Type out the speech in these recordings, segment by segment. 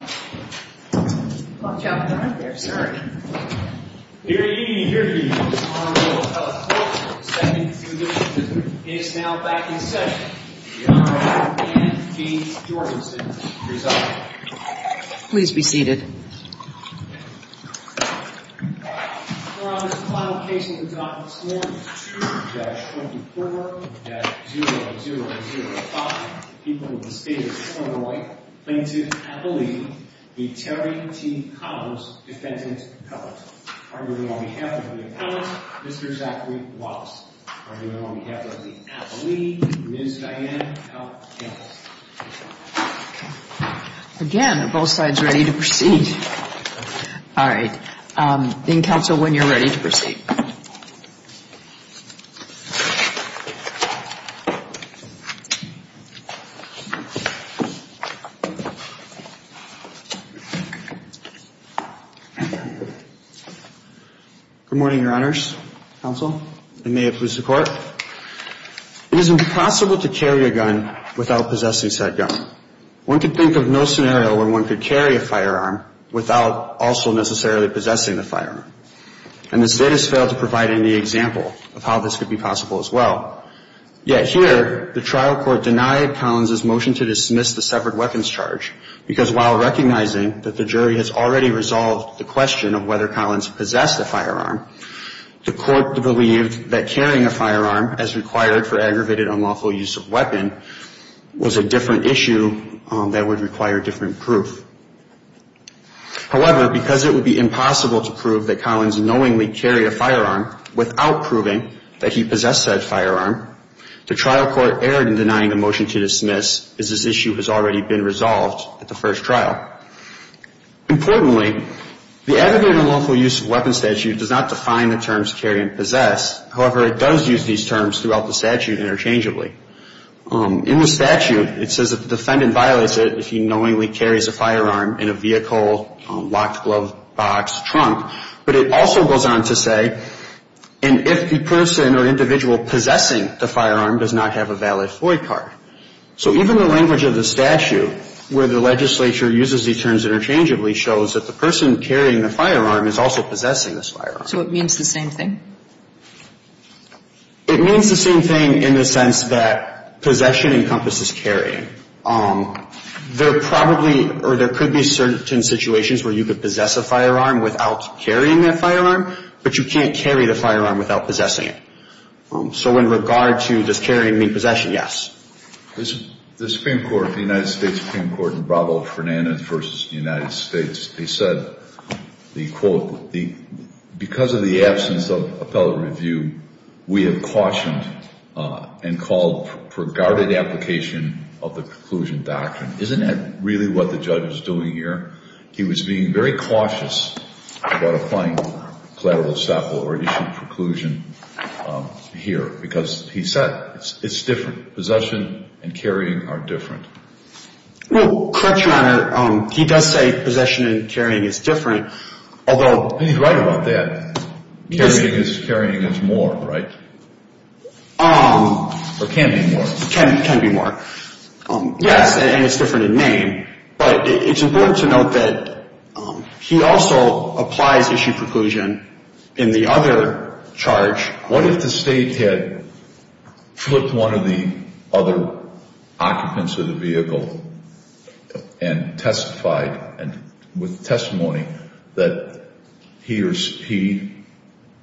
Watch out for the right there, sir. Good evening, here to give you this honorable telephoto of the second fugitive is now back in session, the Honorable Anne B. Jorgensen. Please be seated. On this final occasion we've got this morning two judges from the court that 0-0-0-5 people of the state of Illinois claim to have believed the Terry T. Collins defendant's appellate. On behalf of the appellate, Mr. Zachary Wallace. On behalf of the appellate, Ms. Diane L. Campbell. Again, are both sides ready to proceed? All right. Being counsel, when you're ready to proceed. Good morning, Your Honors. Counsel. And may it please the Court. It is impossible to carry a gun without possessing said gun. One could think of no scenario where one could carry a firearm without also necessarily possessing the firearm. And the state has failed to provide any example of how this could be possible as well. Yet here, the trial court denied Collins' motion to dismiss the severed weapons charge. Because while recognizing that the jury has already resolved the question of whether Collins possessed a firearm, the court believed that carrying a firearm as required for aggravated unlawful use of weapon was a different issue that would require different proof. However, because it would be impossible to prove that Collins knowingly carried a firearm without proving that he possessed said firearm, the trial court erred in denying the motion to dismiss as this issue has already been resolved at the first trial. Importantly, the aggravated unlawful use of weapon statute does not define the terms carry and possess. However, it does use these terms throughout the statute interchangeably. In the statute, it says that the defendant violates it if he knowingly carries a firearm in a vehicle, locked glove box, trunk. But it also goes on to say, and if the person or individual possessing the firearm does not have a valid FOIA card. So even the language of the statute, where the legislature uses these terms interchangeably, shows that the person carrying the firearm is also possessing this firearm. So it means the same thing? It means the same thing in the sense that possession encompasses carrying. There probably or there could be certain situations where you could possess a firearm without carrying that firearm, but you can't carry the firearm without possessing it. So in regard to this carrying and possession, yes. The Supreme Court, the United States Supreme Court, in Bravo-Fernandez v. United States, they said, they quote, because of the absence of appellate review, we have cautioned and called for guarded application of the preclusion doctrine. Isn't that really what the judge is doing here? He was being very cautious about applying collateral stop or issuing preclusion here, because he said it's different. Possession and carrying are different. Well, correct, Your Honor. He does say possession and carrying is different, although he's right about that. Carrying is more, right? Or can be more. Can be more. Yes, and it's different in name. But it's important to note that he also applies issue preclusion in the other charge. What if the State had flipped one of the other occupants of the vehicle and testified with testimony that he or he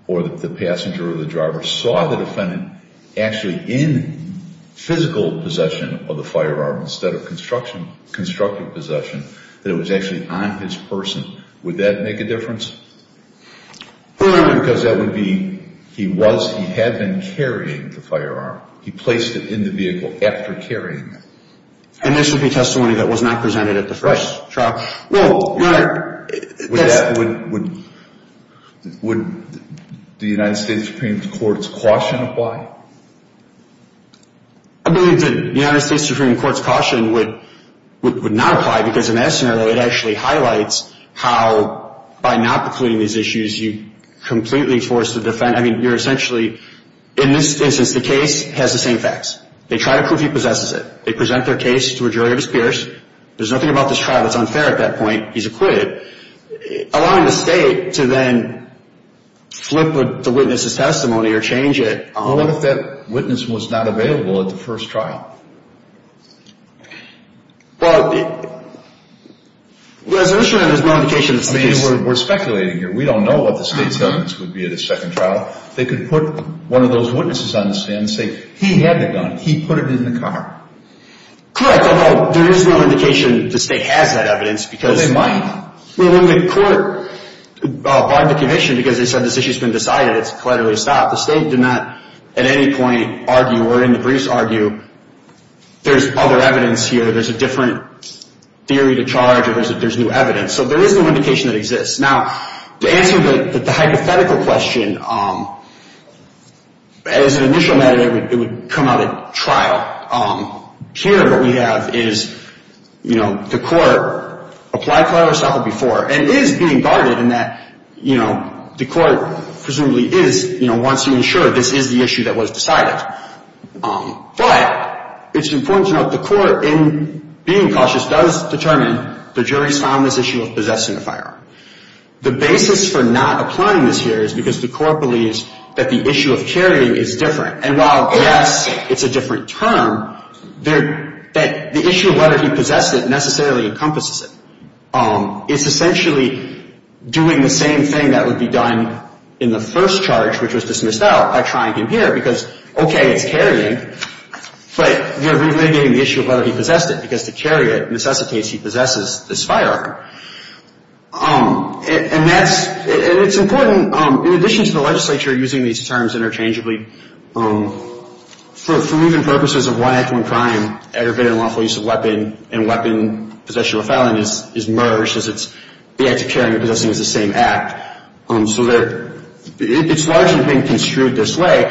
or the passenger or the driver saw the defendant actually in physical possession of the firearm instead of constructive possession, that it was actually on his person? Would that make a difference? Because that would be, he was, he had been carrying the firearm. He placed it in the vehicle after carrying it. And this would be testimony that was not presented at the first trial? Well, Your Honor. Would the United States Supreme Court's caution apply? I believe that the United States Supreme Court's caution would not apply because in that scenario it actually highlights how by not precluding these issues, you completely force the defendant, I mean, you're essentially, in this instance, the case has the same facts. They try to prove he possesses it. They present their case to a jury of his peers. There's nothing about this trial that's unfair at that point. He's acquitted. Allowing the State to then flip the witness' testimony or change it. What if that witness was not available at the first trial? Well, there's no indication that the State is. I mean, we're speculating here. We don't know what the State's evidence would be at the second trial. They could put one of those witnesses on the stand and say he had the gun. He put it in the car. Correct. Although, there is no indication the State has that evidence. Well, they might. Well, when the court barred the conviction because they said this issue's been decided, it's collaterally stopped. The State did not at any point argue or in the briefs argue there's other evidence here. There's a different theory to charge or there's new evidence. So there is no indication that exists. Now, to answer the hypothetical question, as an initial matter, it would come out at trial. Here, what we have is, you know, the court applied prior or settled before and is being guarded in that, you know, the court presumably is, you know, wants to ensure this is the issue that was decided. But it's important to note the court, in being cautious, does determine the jury's found this issue of possessing a firearm. The basis for not applying this here is because the court believes that the issue of carrying is different. And while, yes, it's a different term, the issue of whether he possessed it necessarily encompasses it. It's essentially doing the same thing that would be done in the first charge, which was dismissed out by trying him here, because, okay, it's carrying, but we're relitigating the issue of whether he possessed it, because to carry it necessitates he possesses this firearm. And that's — and it's important, in addition to the legislature using these terms interchangeably, for moving purposes of one act, one crime, aggravated and lawful use of weapon, and weapon possession or filing is merged as it's — the act of carrying and possessing is the same act. So there — it's largely being construed this way.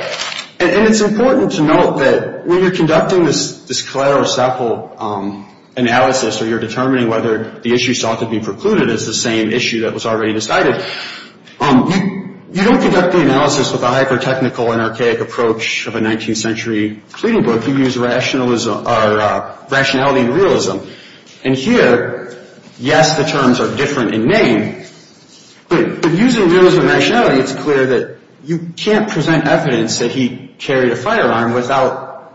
And it's important to note that when you're conducting this collateral or settle analysis or you're determining whether the issue sought to be precluded is the same issue that was already decided, you don't conduct the analysis with a hyper-technical and archaic approach of a 19th century pleading book. You use rationalism — or rationality and realism. And here, yes, the terms are different in name, but using realism and rationality, it's clear that you can't present evidence that he carried a firearm without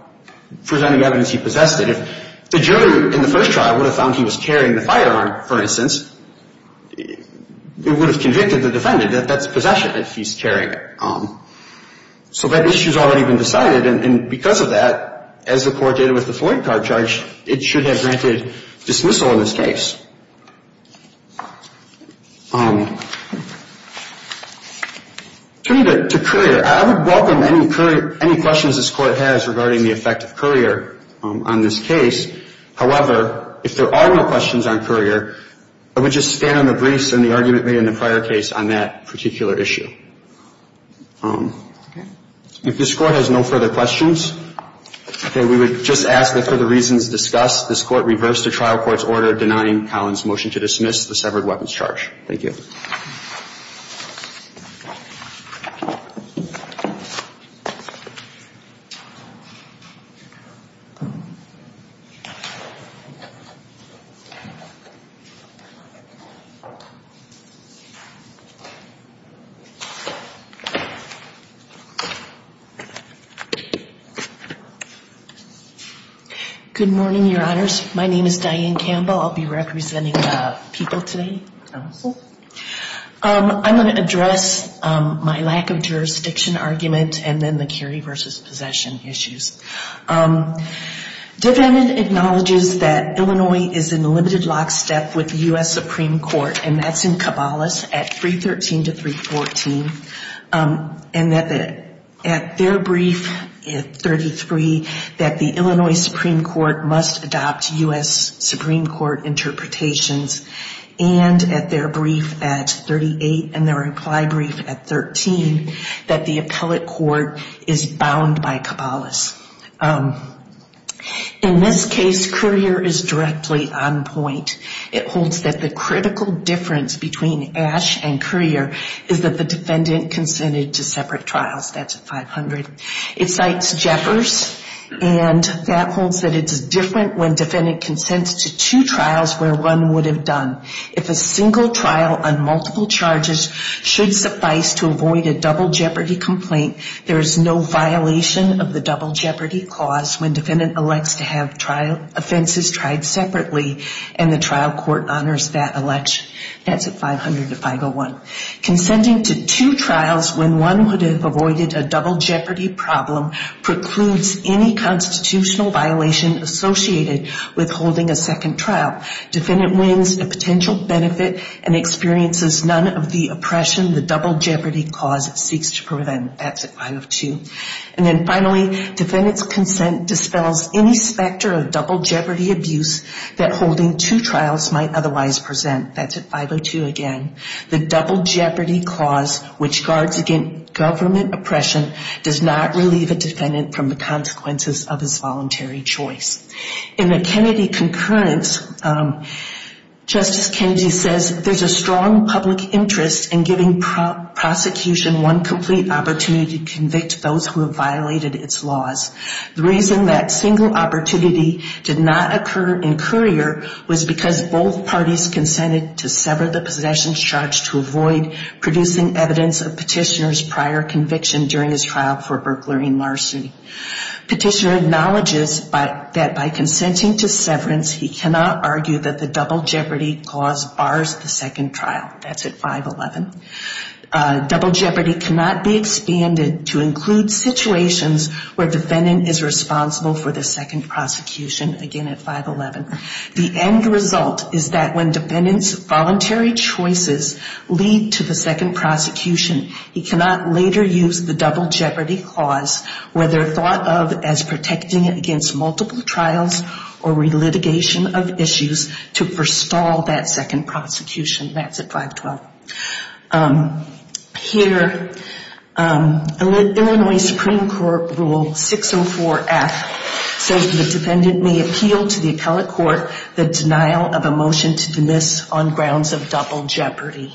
presenting evidence he possessed it. If the jury in the first trial would have found he was carrying the firearm, for instance, it would have convicted the defendant that that's possession that he's carrying it. So that issue's already been decided. And because of that, as the court did with the Floyd card charge, it should have granted dismissal in this case. Turning to Currier, I would welcome any questions this Court has regarding the effect of Currier on this case. However, if there are no questions on Currier, I would just stand on the briefs and the argument made in the prior case on that particular issue. If this Court has no further questions, okay, we would just ask that for the reasons discussed, this Court reverse the trial court's order denying Collins' motion to dismiss the severed weapons charge. Thank you. Good morning, Your Honors. My name is Diane Campbell. I'll be representing people today. I'm going to address my lack of jurisdiction argument and then the carry versus possession issues. Defendant acknowledges that Illinois is in limited lockstep with the U.S. Supreme Court, and that's in Caballos at 313 to 314, and that at their brief at 33, that the Illinois Supreme Court must adopt U.S. Supreme Court interpretations, and at their brief at 38 and their implied brief at 13, that the appellate court is bound by Caballos. In this case, Currier is directly on point. It holds that the critical difference between Ash and Currier is that the defendant consented to separate trials. That's at 500. It cites Jeffers, and that holds that it's different when defendant consents to two trials where one would have done. If a single trial on multiple charges should suffice to avoid a double jeopardy complaint, there is no violation of the double jeopardy clause when defendant elects to have trial offenses tried separately, and the trial court honors that election. That's at 500 to 501. Consenting to two trials when one would have avoided a double jeopardy problem precludes any constitutional violation associated with holding a second trial. Defendant wins a potential benefit and experiences none of the oppression the double jeopardy clause seeks to prevent. That's at 502. And then finally, defendant's consent dispels any specter of double jeopardy abuse that holding two trials might otherwise present. That's at 502 again. The double jeopardy clause, which guards against government oppression, does not relieve a defendant from the consequences of his voluntary choice. In the Kennedy concurrence, Justice Kennedy says there's a strong public interest in giving prosecution one complete opportunity to convict those who have violated its laws. The reason that single opportunity did not occur in Currier was because both parties consented to sever the possession of a double jeopardy charge to avoid producing evidence of petitioner's prior conviction during his trial for burglary and larceny. Petitioner acknowledges that by consenting to severance, he cannot argue that the double jeopardy clause bars the second trial. That's at 511. Double jeopardy cannot be expanded to include situations where defendant is responsible for the second prosecution. Again, at 511. The end result is that when defendant's voluntary choices lead to the second prosecution, he cannot later use the double jeopardy clause, whether thought of as protecting against multiple trials or relitigation of issues, to forestall that second prosecution. That's at 512. Here, Illinois Supreme Court Rule 604F says the defendant may appeal to the appellate court the denial of a motion to dismiss on grounds of double jeopardy.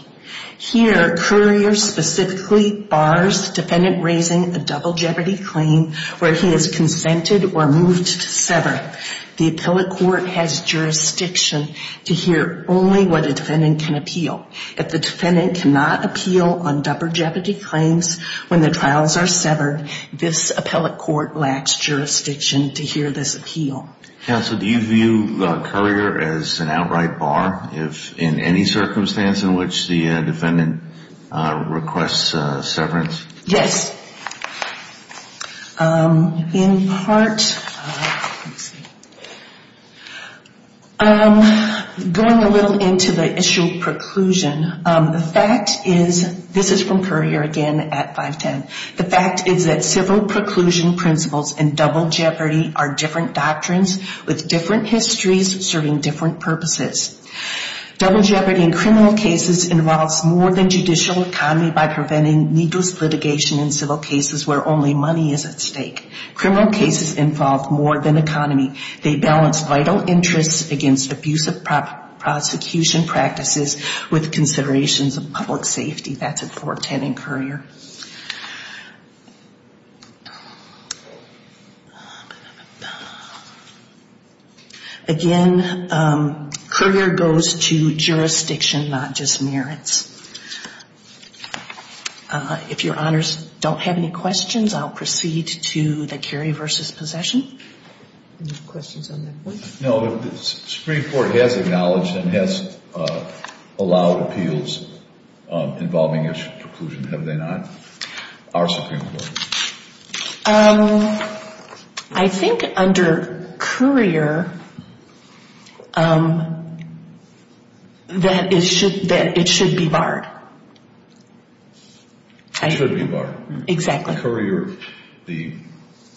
Here, Currier specifically bars defendant raising a double jeopardy claim where he has consented or moved to sever. The appellate court has jurisdiction to hear only what a defendant can appeal. If the defendant cannot appeal on double jeopardy claims when the trials are severed, this appellate court lacks jurisdiction to hear this appeal. Counsel, do you view Currier as an outright bar if in any circumstance in which the defendant requests severance? Yes. In part, going a little into the issue of preclusion, the fact is, this is from Currier again at 510, the fact is that civil preclusion principles and double jeopardy are different doctrines with different histories serving different purposes. Double jeopardy in criminal cases involves more than judicial economy by preventing needless litigation in civil cases where only money is at stake. Criminal cases involve more than economy. They balance vital interests against abusive prosecution practices with considerations of public safety. That's at 410 in Currier. Currier goes to jurisdiction, not just merits. If Your Honors don't have any questions, I'll proceed to the Currier v. Possession. Any questions on that point? No. The Supreme Court has acknowledged and has allowed appeals involving a preclusion, have they not? I think under Currier, that it should be barred. It should be barred. Exactly.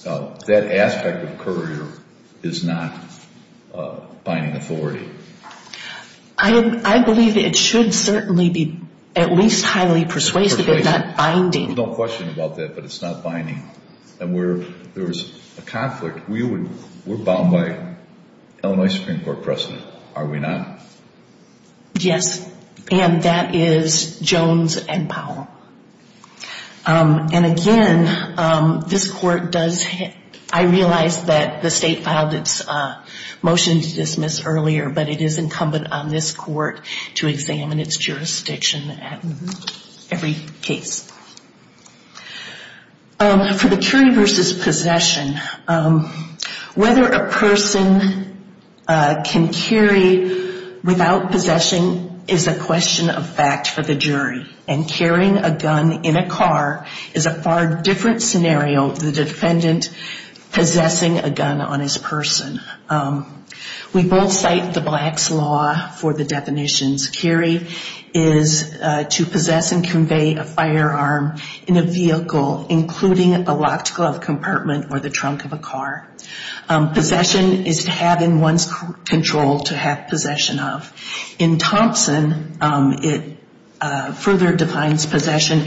That aspect of Currier is not binding authority. I believe it should certainly be at least highly persuasive, if not binding. There's no question about that, but it's not binding. And where there's a conflict, we're bound by Illinois Supreme Court precedent, are we not? Yes. And that is Jones and Powell. And again, this Court does, I realize that the State filed its motion to dismiss earlier, but it is incumbent on this Court to examine its jurisdiction at every case. For the Currier v. Possession, whether a person can carry without possession is a question of fact for the jury. And carrying a gun in a car is a far different scenario than the defendant possessing a gun on his person. We both cite the Black's Law for the definitions. Carry is to possess and convey a firearm in a vehicle, including a locked glove compartment or the trunk of a car. Possession is to have in one's control to have possession of. In Thompson, it further defines possession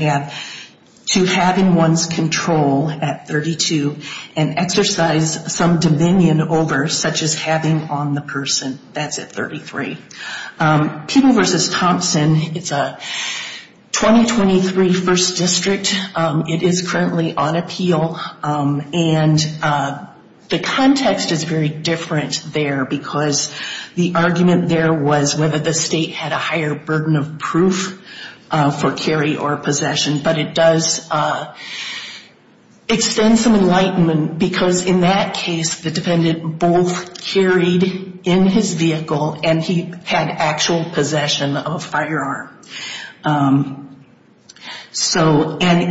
to have in one's control at 32 and exercise some dominion over, such as having on the person. That's at 33. Peeble v. Thompson, it's a 2023 First District. It is currently on appeal. And the context is very different there, because the argument there was whether the State had a higher burden of proof for carry or possession. But it does extend some enlightenment, because in that case, the defendant both carried in his vehicle and he had actual possession of a firearm. And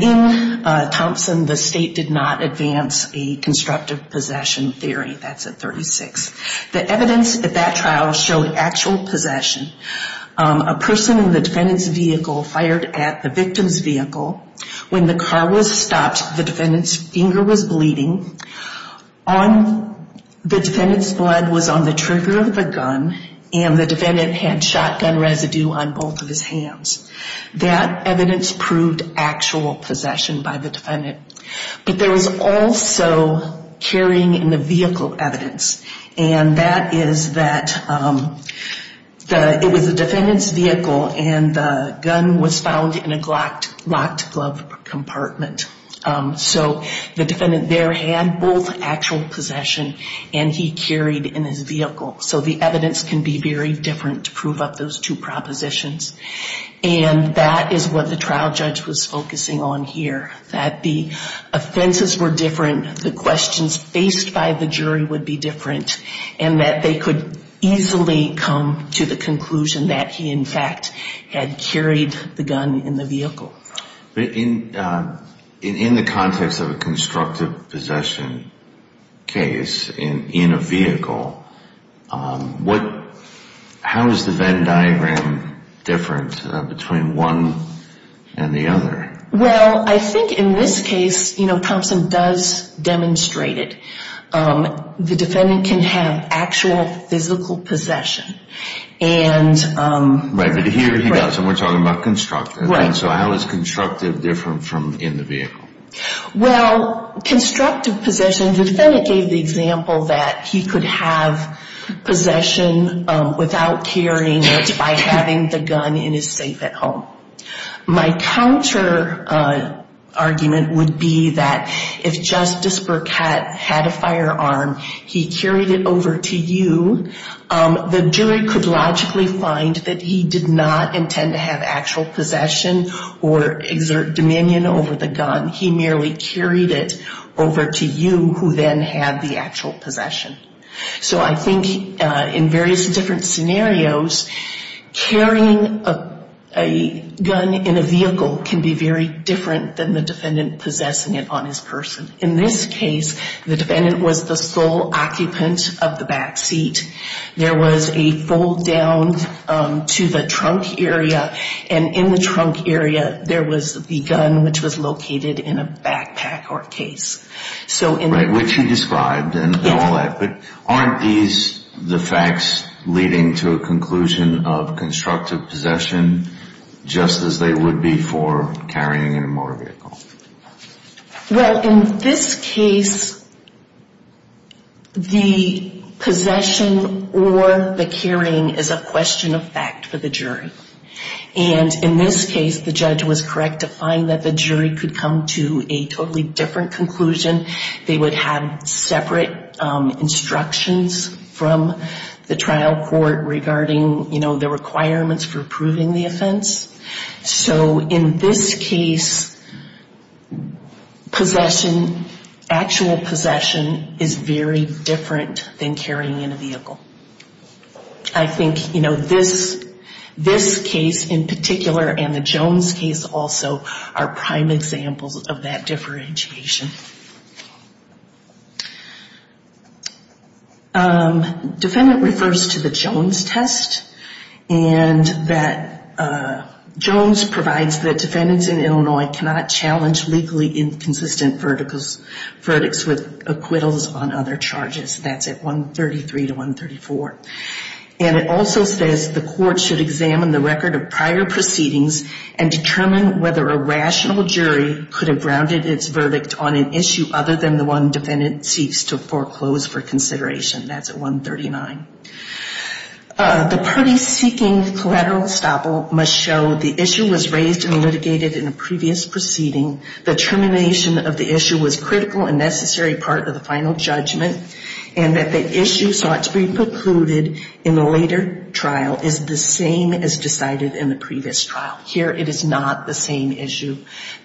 in Thompson, the State did not advance a constructive possession theory. That's at 36. The evidence at that trial showed actual possession. A person in the defendant's vehicle fired at the victim's vehicle. When the car was stopped, the defendant's finger was bleeding. The defendant's blood was on the trigger of the gun, and the defendant had shotgun residue on both of his hands. That evidence proved actual possession by the defendant. But there was also carrying in the vehicle evidence. And that is that it was the defendant's vehicle, and the gun was found in a locked glove compartment. So the defendant there had both actual possession, and he carried in his vehicle. So the evidence can be very different to prove up those two propositions. And that is what the trial judge was focusing on here, that the offenses were different. The questions faced by the jury would be different, and that they could easily come to the conclusion that he, in fact, had carried the gun in the vehicle. But in the context of a constructive possession case in a vehicle, how does the Venn diagram differ from the Venn diagram in a vehicle? How is it different between one and the other? Well, I think in this case, you know, Thompson does demonstrate it. The defendant can have actual physical possession. Right, but here he does, and we're talking about constructive. So how is constructive different from in the vehicle? Well, constructive possession, the defendant gave the example that he could have possession without carrying it by having the gun in his safe at home. My counter argument would be that if Justice Burkett had a firearm, he carried it over to you. The jury could logically find that he did not intend to have actual possession or exert dominion over the gun. He merely carried it over to you, who then had the actual possession. So I think in various different scenarios, carrying a gun in a vehicle can be very different than the defendant possessing it on his person. In this case, the defendant was the sole occupant of the back seat. There was a fold down to the trunk area, and in the trunk area, there was the gun, which was located in a safe. In the trunk area, there was the gun, which was located in a backpack or case. Right, which he described and all that. But aren't these the facts leading to a conclusion of constructive possession, just as they would be for carrying in a motor vehicle? Well, in this case, the possession or the carrying is a question of fact for the jury. They would come to a totally different conclusion. They would have separate instructions from the trial court regarding, you know, the requirements for approving the offense. So in this case, possession, actual possession is very different than carrying in a vehicle. I think, you know, this case in particular and the Jones case also are prime examples of that fact. Differentiation. Defendant refers to the Jones test, and that Jones provides that defendants in Illinois cannot challenge legally inconsistent verdicts with acquittals on other charges. That's at 133 to 134. And it also says the court should examine the record of prior proceedings and determine whether a rational jury could have grounded its verdict on an issue other than the one defendant seeks to foreclose for consideration. That's at 139. The party seeking collateral estoppel must show the issue was raised and litigated in a previous proceeding, the termination of the issue was critical and necessary part of the final judgment, and that the issue sought to be precluded in the later trial is the same as decided in the previous trial. Here it is not the same issue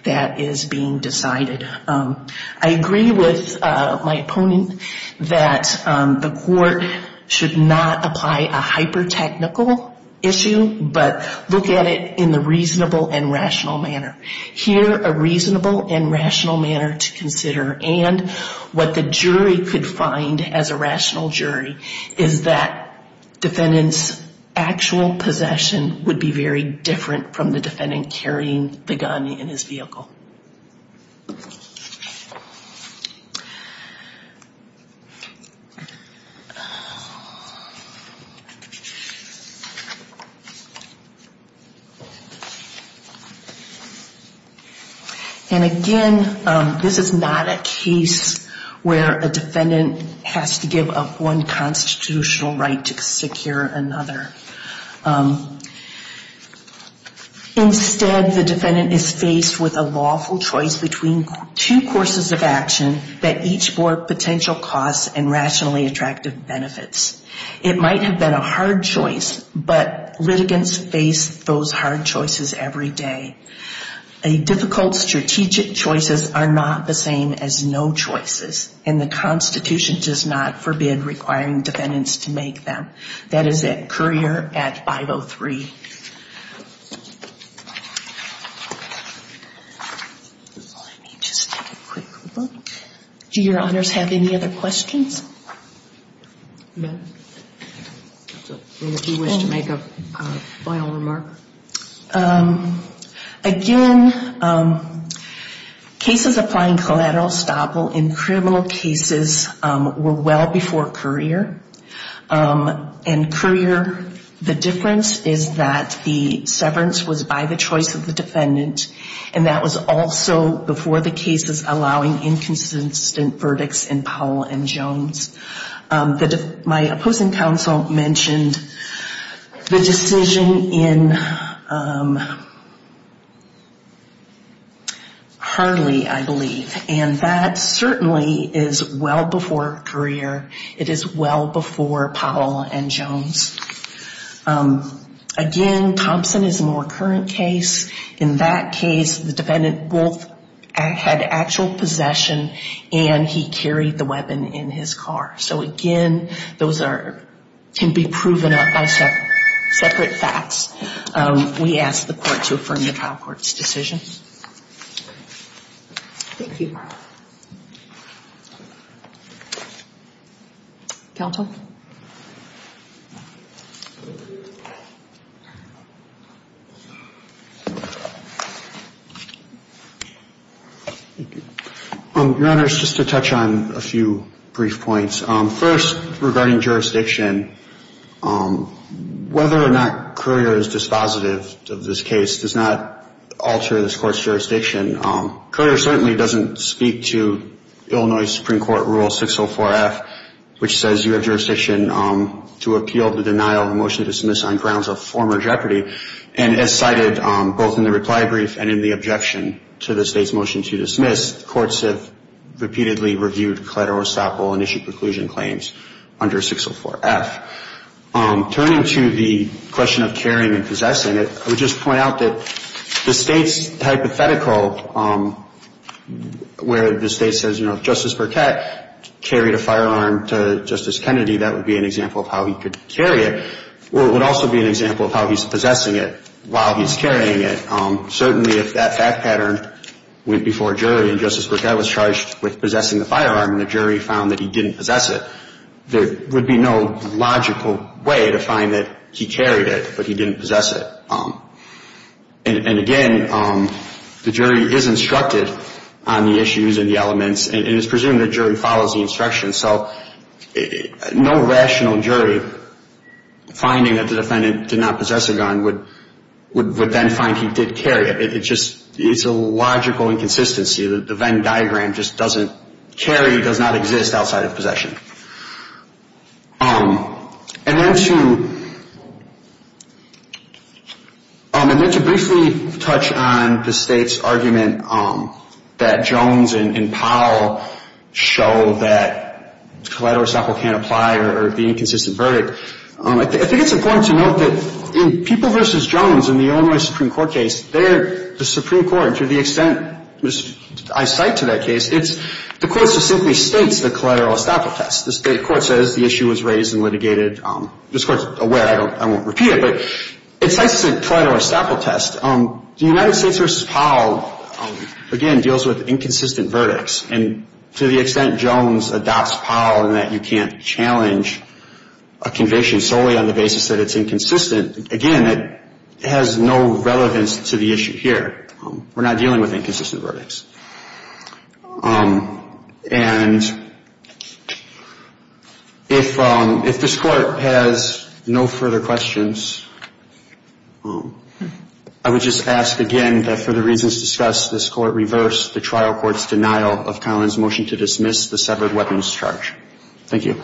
that is being decided. I agree with my opponent that the court should not apply a hypertechnical issue, but look at it in the reasonable and rational manner. Here a reasonable and rational manner to consider and what the jury could find as a rational jury is that the defendant is holding a gun and the defendant carrying the gun in his vehicle. And again, this is not a case where a defendant has to give up one constitutional right to secure another. Instead, the defendant is faced with a lawful choice between two courses of action that each bore potential costs and rationally attractive benefits. It might have been a hard choice, but litigants face those hard choices every day. Difficult strategic choices are not the same as no choices, and the Constitution does not forbid requiring defendants to make them. That is it. Courier at 503. Do your honors have any other questions? If you wish to make a final remark. Again, cases applying collateral estoppel in criminal cases were well before Courier. The difference is that the severance was by the choice of the defendant, and that was also before the cases allowing inconsistent verdicts in Powell and Jones. My opposing counsel mentioned the decision in Hurley, I believe, and that certainly is well before Courier. It is well before Powell and Jones. Again, Thompson is a more current case. In that case, the defendant both had actual possession and he carried the weapon in his car. So again, those can be proven by separate facts. We ask the court to affirm the trial court's decision. Counsel? Your honors, just to touch on a few brief points. First, regarding jurisdiction, whether or not Courier is dispositive of this case does not alter this court's jurisdiction. Courier certainly doesn't speak to Illinois Supreme Court Rule 604-F, which says you have jurisdiction to appeal the denial of a motion to dismiss on grounds of former jeopardy. And as cited both in the reply brief and in the objection to the state's motion to dismiss, courts have repeatedly reviewed collateral estoppel and issued preclusion claims under 604-F. Turning to the question of carrying and possessing it, I would just point out that the State's hypothetical where the State says, you know, if Justice Burkett carried a firearm to Justice Kennedy, that would be an example of how he could carry it. Or it would also be an example of how he's possessing it while he's carrying it. Certainly if that fact pattern went before a jury and Justice Burkett was charged with possessing the firearm and the jury found that he didn't possess it, there would be no logical way to find that he carried it, but he didn't possess it. And again, the jury is instructed on the issues and the elements, and it's presumed the jury follows the instructions. So no rational jury finding that the defendant did not possess a gun would then find he did carry it. It's a logical inconsistency that the Venn diagram just doesn't carry, does not exist outside of possession. And then to briefly touch on the State's argument that Jones and Powell show that collateral estoppel can't apply or be an inconsistent verdict, I think it's important to note that in People v. Jones in the Illinois Supreme Court case, there the Supreme Court, to the extent I cite to that case, the Court just simply states the collateral estoppel test. The State Court says the issue was raised and litigated. This Court's aware, I won't repeat it, but it cites the collateral estoppel test. The United States v. Powell, again, deals with inconsistent verdicts. And to the extent Jones adopts Powell in that you can't challenge a conviction solely on the basis that it's inconsistent, again, it has no relevance to the issue here. We're not dealing with inconsistent verdicts. And if this Court has no further questions, I would like to move on to the next case. I would just ask again that for the reasons discussed, this Court reverse the trial court's denial of Collins' motion to dismiss the severed weapons charge. Thank you.